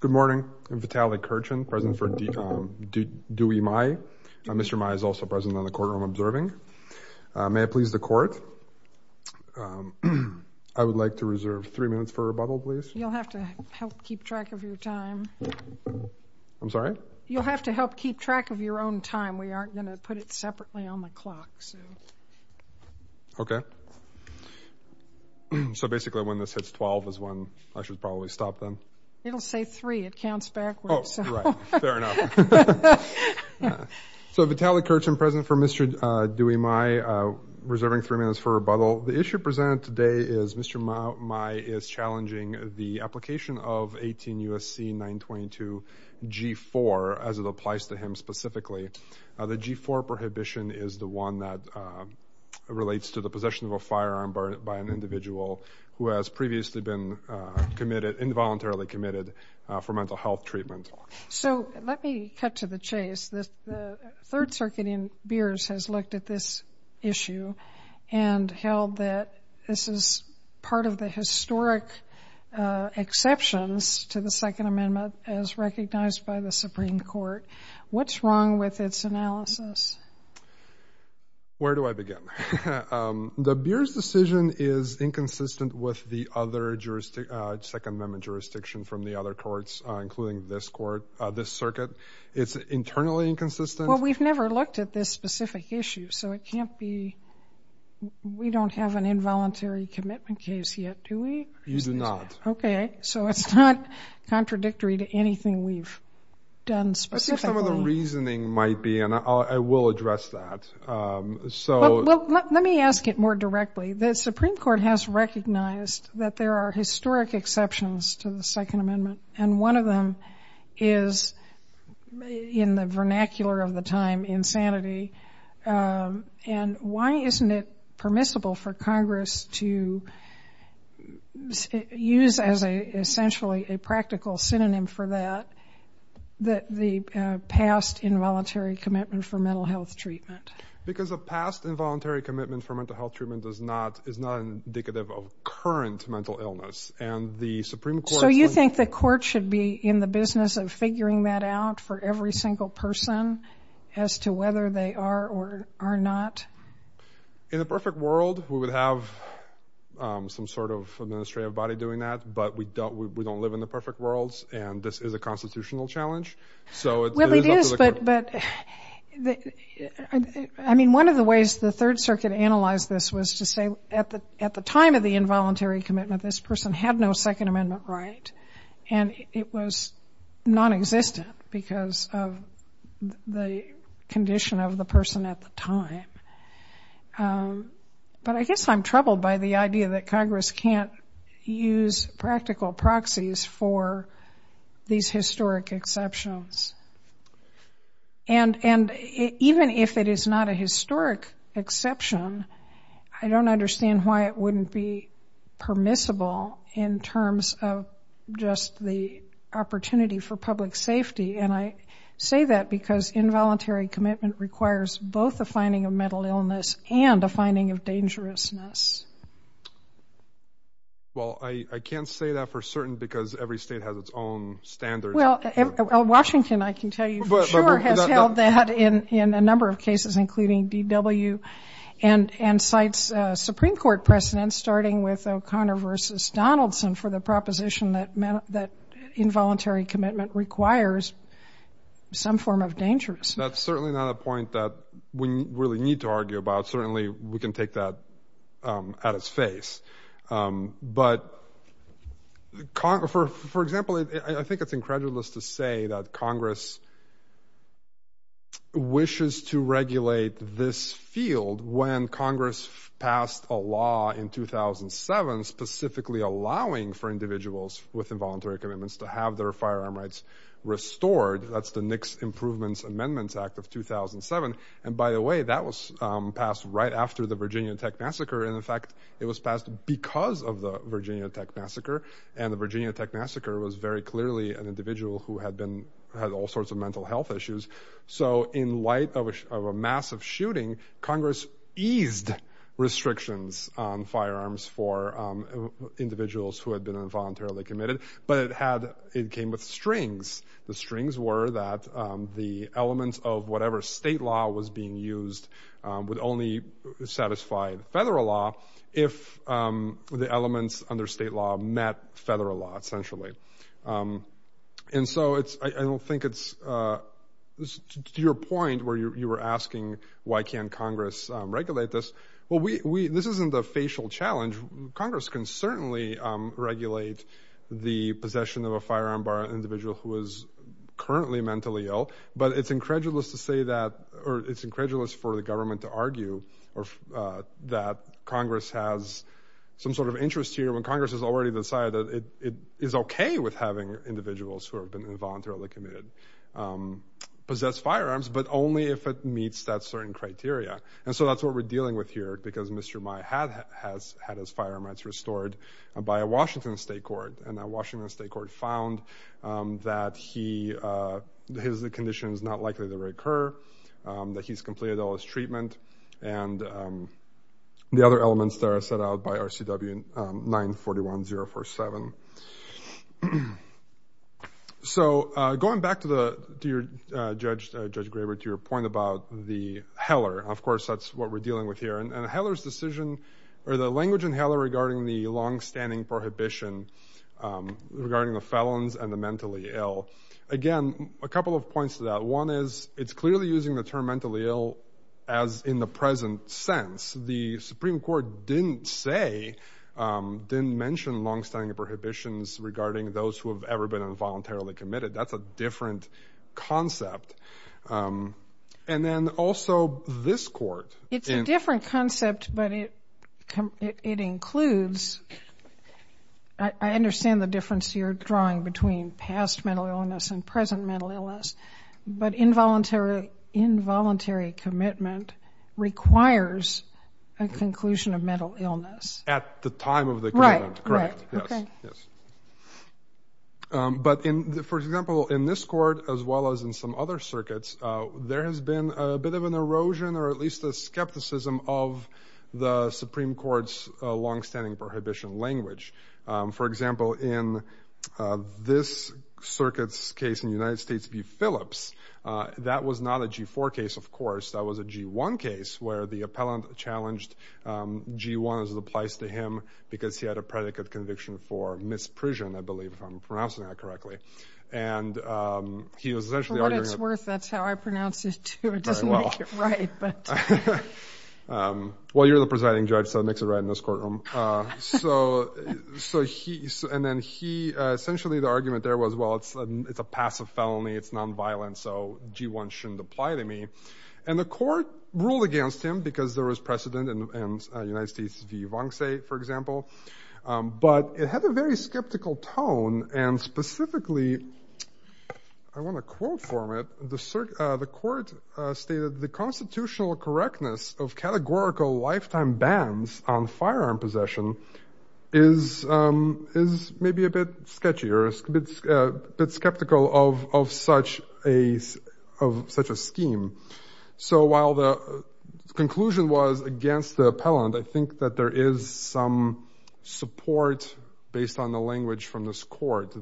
Good morning. I'm Vitaly Kerchin, president for Duy Mai. Mr. Mai is also present in the courtroom observing. May I please the court? I would like to reserve three minutes for rebuttal, please. You'll have to help keep track of your time. I'm sorry? You'll have to help keep track of your own time. We aren't going to put it separately on the clock. Okay. So basically when this hits 12 is when I should probably stop then? It'll say three. It counts backwards. Oh, right. Fair enough. So Vitaly Kerchin, president for Mr. Duy Mai, reserving three minutes for rebuttal. The issue presented today is Mr. Mai is challenging the application of 18 U.S.C. 922 G-4 as it applies to him specifically. The G-4 prohibition is the one that relates to the possession of a firearm by an individual who has previously been involuntarily committed for mental health treatment. So let me cut to the chase. The Third Circuit in Beers has looked at this issue and held that this is part of the historic exceptions to the Second Amendment as recognized by the Supreme Court. What's wrong with its analysis? Where do I begin? The Beers decision is inconsistent with the other Second Amendment jurisdiction from the other courts, including this circuit. It's internally inconsistent. Well, we've never looked at this specific issue, so it can't be. We don't have an involuntary commitment case yet, do we? You do not. Okay. So it's not contradictory to anything we've done specifically. I think some of the reasoning might be, and I will address that. Let me ask it more directly. The Supreme Court has recognized that there are historic exceptions to the Second Amendment, and one of them is, in the vernacular of the time, insanity. And why isn't it permissible for Congress to use as essentially a practical synonym for that the past involuntary commitment for mental health treatment? Because a past involuntary commitment for mental health treatment is not indicative of current mental illness. So you think the court should be in the business of figuring that out for every single person as to whether they are or are not? In a perfect world, we would have some sort of administrative body doing that, but we don't live in the perfect worlds, and this is a constitutional challenge. Well, it is, but I mean, one of the ways the Third Circuit analyzed this was to say, at the time of the involuntary commitment, this person had no Second Amendment right, and it was nonexistent because of the condition of the person at the time. But I guess I'm troubled by the idea that Congress can't use practical proxies for these historic exceptions. And even if it is not a historic exception, I don't understand why it wouldn't be permissible in terms of just the opportunity for public safety. And I say that because involuntary commitment requires both a finding of mental illness and a finding of dangerousness. Well, I can't say that for certain because every state has its own standards. Well, Washington, I can tell you for sure, has held that in a number of cases, including DW, and cites Supreme Court precedents, starting with O'Connor v. Donaldson, for the proposition that involuntary commitment requires some form of dangerousness. That's certainly not a point that we really need to argue about. Certainly we can take that at its face. But, for example, I think it's incredulous to say that Congress wishes to regulate this field when Congress passed a law in 2007 specifically allowing for individuals with involuntary commitments to have their firearm rights restored. That's the Nix Improvements Amendments Act of 2007. And, by the way, that was passed right after the Virginia Tech massacre. And, in fact, it was passed because of the Virginia Tech massacre. And the Virginia Tech massacre was very clearly an individual who had all sorts of mental health issues. So, in light of a massive shooting, Congress eased restrictions on firearms for individuals who had been involuntarily committed, but it came with strings. The strings were that the elements of whatever state law was being used would only satisfy federal law if the elements under state law met federal law, essentially. And so I don't think it's to your point where you were asking why can't Congress regulate this. Well, this isn't a facial challenge. Congress can certainly regulate the possession of a firearm by an individual who is currently mentally ill. But it's incredulous for the government to argue that Congress has some sort of interest here when Congress has already decided that it is okay with having individuals who have been involuntarily committed possess firearms, but only if it meets that certain criteria. And so that's what we're dealing with here because Mr. Meyer had his firearm rights restored by a Washington state court. And that Washington state court found that his condition is not likely to recur, that he's completed all his treatment, and the other elements there are set out by RCW 941-047. So going back to your point about the Heller, of course that's what we're dealing with here. And the language in Heller regarding the longstanding prohibition regarding the felons and the mentally ill. Again, a couple of points to that. One is it's clearly using the term mentally ill as in the present sense. The Supreme Court didn't say, didn't mention longstanding prohibitions regarding those who have ever been involuntarily committed. That's a different concept. And then also this court. It's a different concept, but it includes, I understand the difference you're drawing between past mental illness and present mental illness, but involuntary commitment requires a conclusion of mental illness. At the time of the commitment, correct. But for example, in this court, as well as in some other circuits, there has been a bit of an erosion or at least a skepticism of the Supreme Court's longstanding prohibition language. For example, in this circuit's case in the United States v. Phillips, that was not a G4 case, of course. That was a G1 case where the appellant challenged G1 as it applies to him because he had a predicate conviction for misprision, I believe if I'm pronouncing that correctly. For what it's worth, that's how I pronounce it, too. It doesn't make it right. Well, you're the presiding judge, so it makes it right in this courtroom. And then essentially the argument there was, well, it's a passive felony. It's nonviolent, so G1 shouldn't apply to me. And the court ruled against him because there was precedent in the United States v. Vance, for example. But it had a very skeptical tone. And specifically, I want to quote from it, the court stated, the constitutional correctness of categorical lifetime bans on firearm possession is maybe a bit sketchy or a bit skeptical of such a scheme. So while the conclusion was against the appellant, I think that there is some support based on the language from this court.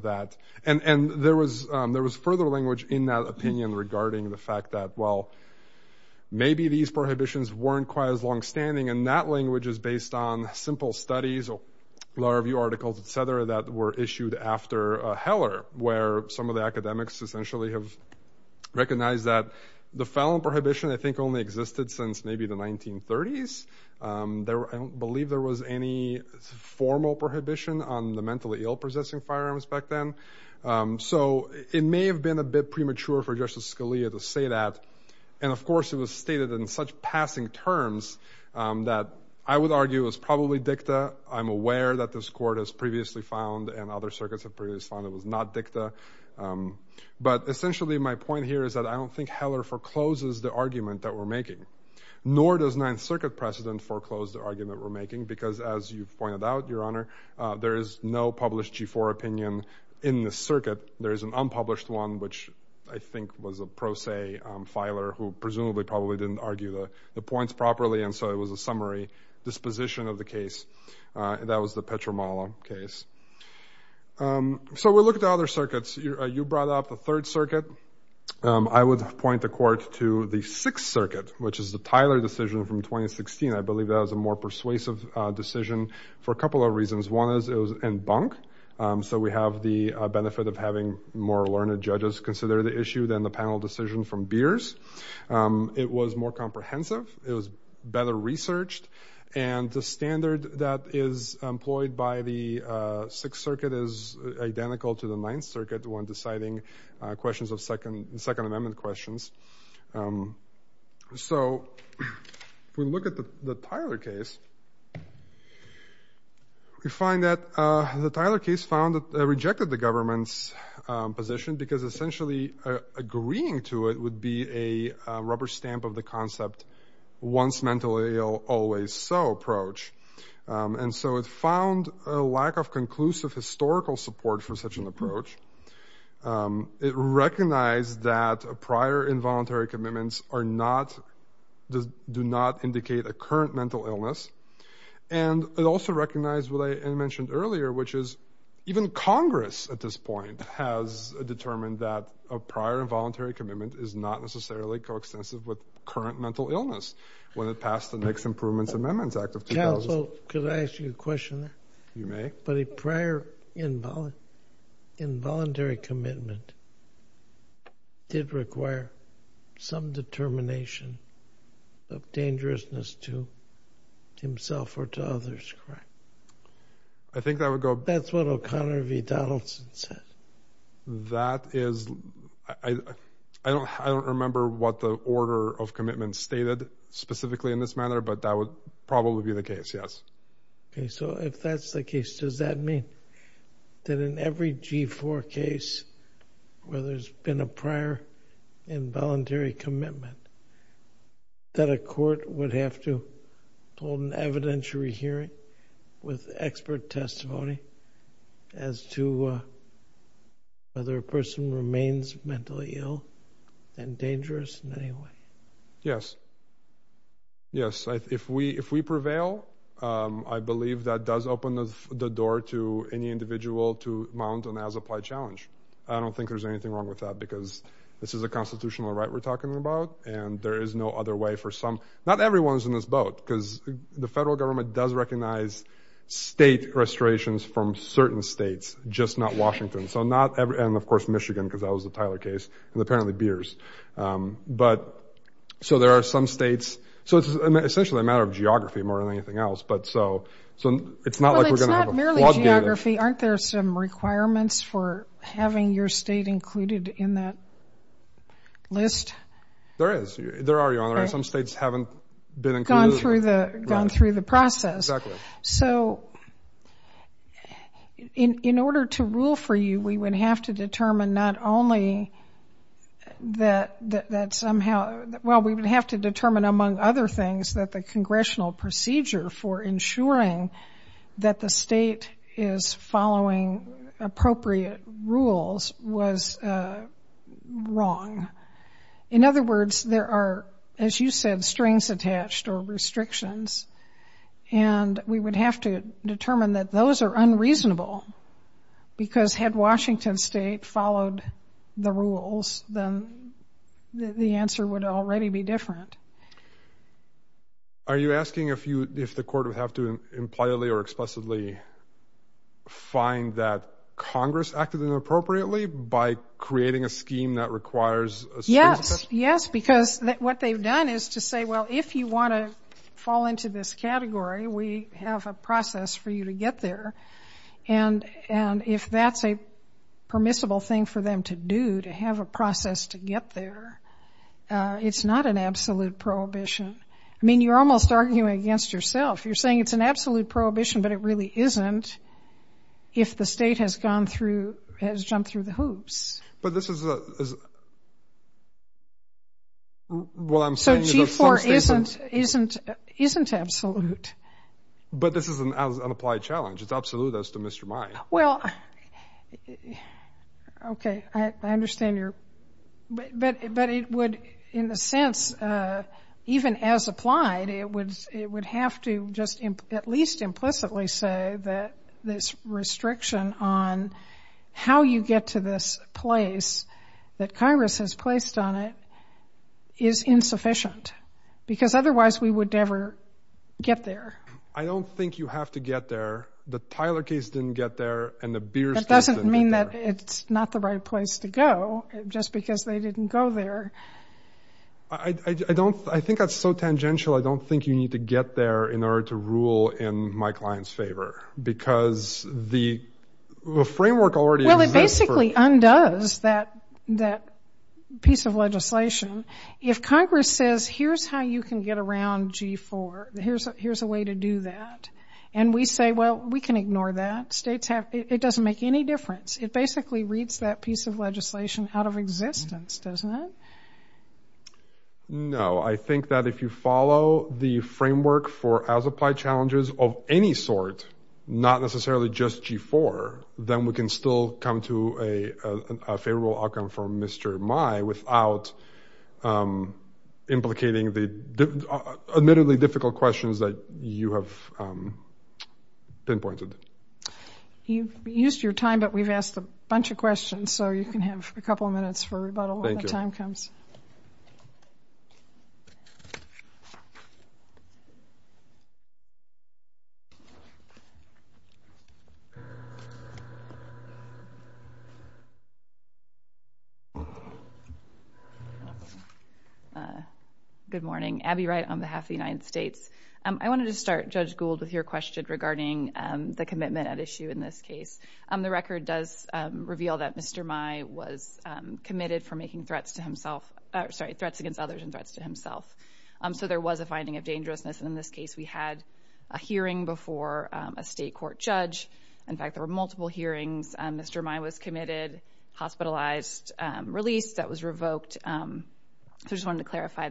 And there was further language in that opinion regarding the fact that, well, maybe these prohibitions weren't quite as longstanding. And that language is based on simple studies, law review articles, et cetera, that were issued after Heller, where some of the academics essentially have recognized that the felon prohibition, I think, only existed since maybe the 1930s. I don't believe there was any formal prohibition on the mentally ill possessing firearms back then. So it may have been a bit premature for Justice Scalia to say that. And, of course, it was stated in such passing terms that I would argue is probably dicta. I'm aware that this court has previously found and other circuits have previously found it was not dicta. But essentially, my point here is that I don't think Heller forecloses the argument that we're making, nor does Ninth Circuit precedent foreclose the argument we're making because, as you've pointed out, Your Honor, there is no published G4 opinion in the circuit. There is an unpublished one, which I think was a pro se filer who presumably probably didn't argue the points properly. And so it was a summary disposition of the case. That was the Petromala case. So we'll look at the other circuits. You brought up the Third Circuit. I would point the court to the Sixth Circuit, which is the Tyler decision from 2016. I believe that was a more persuasive decision for a couple of reasons. One is it was in bunk. So we have the benefit of having more learned judges consider the issue than the panel decision from Beers. It was more comprehensive. It was better researched. And the standard that is employed by the Sixth Circuit is identical to the Ninth Circuit when deciding questions of Second Amendment questions. So if we look at the Tyler case, we find that the Tyler case found that it rejected the government's position because essentially agreeing to it would be a rubber stamp of the concept, once mentally ill, always so approach. And so it found a lack of conclusive historical support for such an approach. It recognized that prior involuntary commitments do not indicate a current mental illness. And it also recognized what I mentioned earlier, which is even Congress at this point has determined that a prior involuntary commitment is not necessarily coextensive with current mental illness when it passed the Next Improvements Amendments Act of 2000. Counsel, could I ask you a question? You may. But a prior involuntary commitment did require some determination of dangerousness to himself or to others, correct? I think that would go— That's what O'Connor v. Donaldson said. That is—I don't remember what the order of commitment stated specifically in this manner, but that would probably be the case, yes. Okay, so if that's the case, does that mean that in every G4 case where there's been a prior involuntary commitment that a court would have to hold an evidentiary hearing with expert testimony as to whether a person remains mentally ill and dangerous in any way? Yes, yes. If we prevail, I believe that does open the door to any individual to mount an as-applied challenge. I don't think there's anything wrong with that because this is a constitutional right we're talking about, and there is no other way for some—not everyone is in this boat, because the federal government does recognize state restorations from certain states, just not Washington. So not—and of course Michigan, because that was the Tyler case, and apparently beers. But so there are some states—so it's essentially a matter of geography more than anything else, but so it's not like we're going to have a— Well, it's not merely geography. Aren't there some requirements for having your state included in that list? There is. There are, Your Honor. Some states haven't been included. Gone through the process. Exactly. So in order to rule for you, we would have to determine not only that somehow— well, we would have to determine, among other things, that the congressional procedure for ensuring that the state is following appropriate rules was wrong. In other words, there are, as you said, strings attached or restrictions, and we would have to determine that those are unreasonable, because had Washington State followed the rules, then the answer would already be different. Are you asking if the court would have to impliedly or explicitly find that Congress acted inappropriately by creating a scheme that requires strings attached? Yes. Yes. Because what they've done is to say, well, if you want to fall into this category, we have a process for you to get there, and if that's a permissible thing for them to do, to have a process to get there, it's not an absolute prohibition. I mean, you're almost arguing against yourself. You're saying it's an absolute prohibition, but it really isn't if the state has gone through—has jumped through the hoops. But this is a—well, I'm saying— So G-4 isn't absolute. But this is an applied challenge. It's absolute as to Mr. Meyer. Well, okay. I understand your—but it would, in a sense, even as applied, it would have to just at least implicitly say that this restriction on how you get to this place that Congress has placed on it is insufficient, because otherwise we would never get there. I don't think you have to get there. The Tyler case didn't get there, and the Beers case didn't get there. That doesn't mean that it's not the right place to go, just because they didn't go there. I don't—I think that's so tangential. I don't think you need to get there in order to rule in my client's favor, because the framework already exists for— Well, it basically undoes that piece of legislation. If Congress says, here's how you can get around G-4, here's a way to do that, and we say, well, we can ignore that. States have—it doesn't make any difference. It basically reads that piece of legislation out of existence, doesn't it? No. I think that if you follow the framework for as-applied challenges of any sort, not necessarily just G-4, then we can still come to a favorable outcome for Mr. Mai without implicating the admittedly difficult questions that you have pinpointed. You've used your time, but we've asked a bunch of questions, so you can have a couple of minutes for rebuttal when the time comes. Thank you. Good morning. Abby Wright on behalf of the United States. I wanted to start, Judge Gould, with your question regarding the commitment at issue in this case. The record does reveal that Mr. Mai was committed for making threats to himself— sorry, threats against others and threats to himself, so there was a finding of dangerousness. In this case, we had a hearing before a state court judge. In fact, there were multiple hearings. Mr. Mai was committed, hospitalized, released, that was revoked. I just wanted to clarify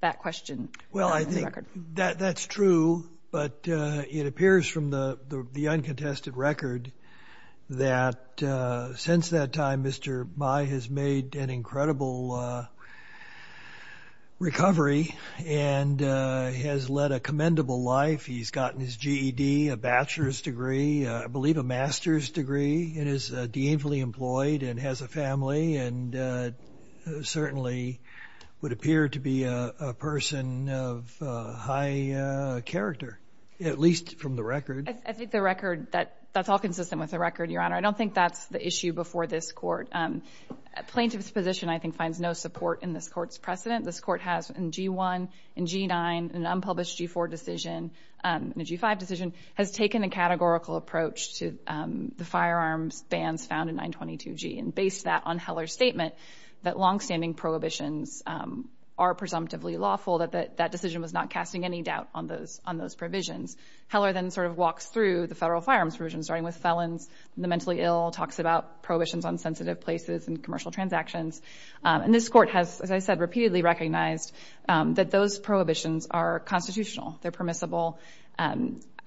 that question. Well, I think that's true, but it appears from the uncontested record that since that time, Mr. Mai has made an incredible recovery and has led a commendable life. He's gotten his GED, a bachelor's degree, I believe a master's degree, and is deemed fully employed and has a family and certainly would appear to be a person of high character, at least from the record. I think the record, that's all consistent with the record, Your Honor. I don't think that's the issue before this court. A plaintiff's position, I think, finds no support in this court's precedent. This court has in G-1, in G-9, an unpublished G-4 decision, a G-5 decision, has taken a categorical approach to the firearms bans found in 922G and based that on Heller's statement that longstanding prohibitions are presumptively lawful, that that decision was not casting any doubt on those provisions. Heller then sort of walks through the federal firearms provisions, starting with felons, the mentally ill, talks about prohibitions on sensitive places and commercial transactions. And this court has, as I said, repeatedly recognized that those prohibitions are constitutional. They're permissible.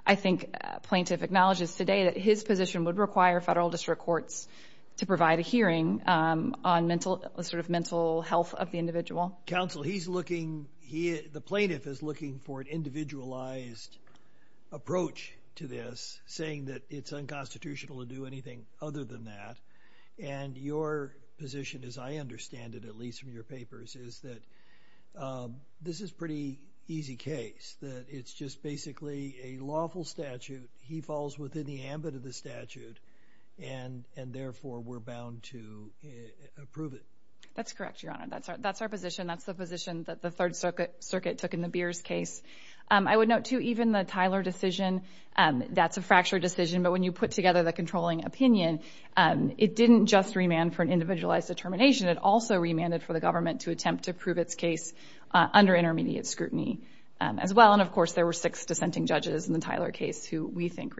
I think a plaintiff acknowledges today that his position would require federal district courts to provide a hearing on sort of mental health of the individual. Counsel, he's looking, the plaintiff is looking for an individualized approach to this, saying that it's unconstitutional to do anything other than that. And your position, as I understand it, at least from your papers, is that this is a pretty easy case, that it's just basically a lawful statute. He falls within the ambit of the statute, and therefore we're bound to approve it. That's correct, Your Honor. That's our position. That's the position that the Third Circuit took in the Beers case. I would note, too, even the Tyler decision, that's a fractured decision, but when you put together the controlling opinion, it didn't just remand for an individualized determination. It also remanded for the government to attempt to prove its case under intermediate scrutiny as well. And, of course, there were six dissenting judges in the Tyler case who we think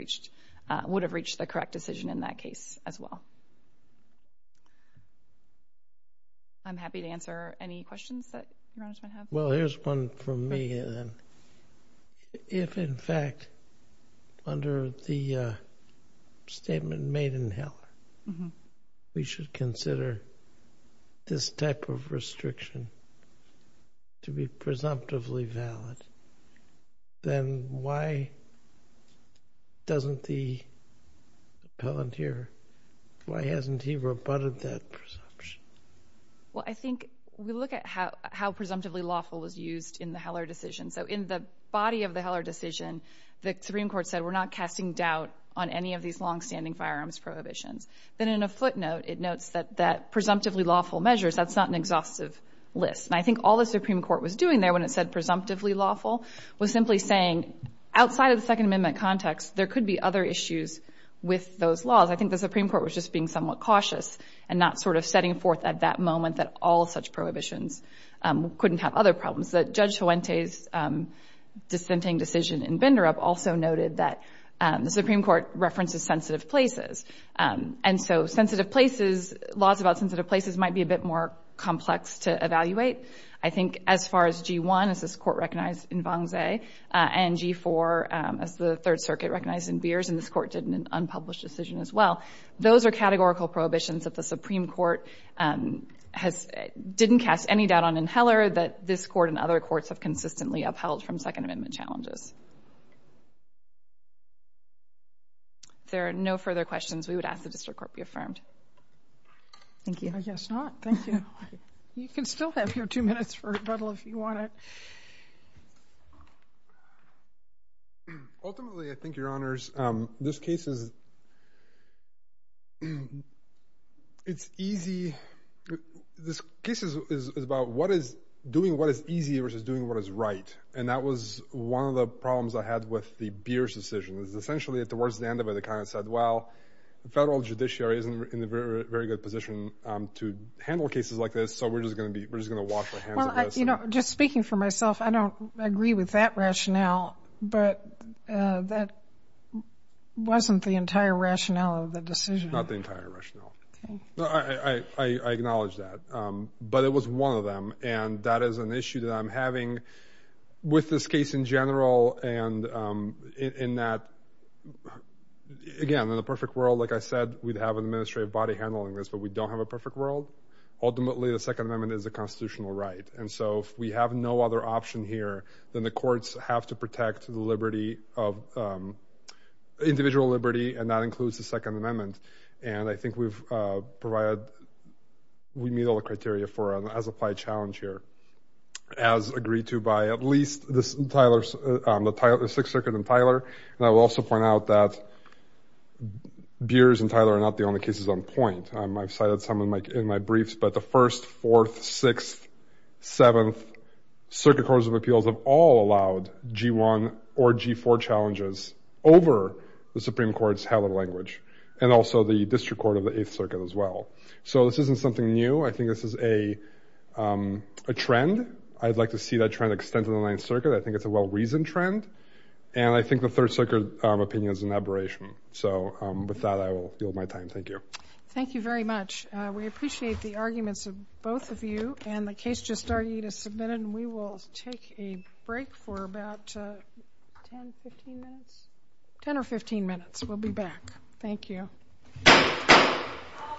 would have reached the correct decision in that case as well. I'm happy to answer any questions that Your Honor might have. Well, here's one for me. If, in fact, under the statement made in Heller, we should consider this type of restriction to be presumptively valid, then why doesn't the appellant here, why hasn't he rebutted that presumption? Well, I think we look at how presumptively lawful was used in the Heller decision. So in the body of the Heller decision, the Supreme Court said we're not casting doubt on any of these longstanding firearms prohibitions. Then in a footnote, it notes that presumptively lawful measures, that's not an exhaustive list. And I think all the Supreme Court was doing there when it said presumptively lawful was simply saying outside of the Second Amendment context, there could be other issues with those laws. I think the Supreme Court was just being somewhat cautious and not sort of setting forth at that moment that all such prohibitions couldn't have other problems. Judge Fuente's dissenting decision in Binderup also noted that the Supreme Court references sensitive places. And so sensitive places, laws about sensitive places might be a bit more complex to evaluate. I think as far as G1, as this Court recognized in Vanze, and G4, as the Third Circuit recognized in Beers, and this Court did in an unpublished decision as well, those are categorical prohibitions that the Supreme Court didn't cast any doubt on in Heller that this Court and other courts have consistently upheld from Second Amendment challenges. If there are no further questions, we would ask the District Court be affirmed. Thank you. I guess not. Thank you. You can still have your two minutes for rebuttal if you want it. Ultimately, I think, Your Honors, this case is easy. This case is about doing what is easy versus doing what is right, and that was one of the problems I had with the Beers decision. It was essentially towards the end of it, the client said, well, the federal judiciary isn't in a very good position to handle cases like this, so we're just going to wash our hands of this. Just speaking for myself, I don't agree with that rationale, but that wasn't the entire rationale of the decision. Not the entire rationale. Okay. I acknowledge that, but it was one of them, and that is an issue that I'm having with this case in general, and in that, again, in the perfect world, like I said, we'd have an administrative body handling this, but we don't have a perfect world. Ultimately, the Second Amendment is a constitutional right, and so if we have no other option here, then the courts have to protect the individual liberty, and that includes the Second Amendment, and I think we meet all the criteria for an as-applied challenge here, as agreed to by at least the Sixth Circuit and Tyler, and I will also point out that Beers and Tyler are not the only cases on point. I've cited some in my briefs, but the First, Fourth, Sixth, Seventh Circuit Courts of Appeals have all allowed G-1 or G-4 challenges over the Supreme Court's hallowed language, and also the District Court of the Eighth Circuit as well. So this isn't something new. I think this is a trend. I'd like to see that trend extend to the Ninth Circuit. I think it's a well-reasoned trend, and I think the Third Circuit opinion is an aberration. So with that, I will yield my time. Thank you. Thank you very much. We appreciate the arguments of both of you, and the case just argued is submitted, and we will take a break for about 10 or 15 minutes. We'll be back. Thank you. All rise.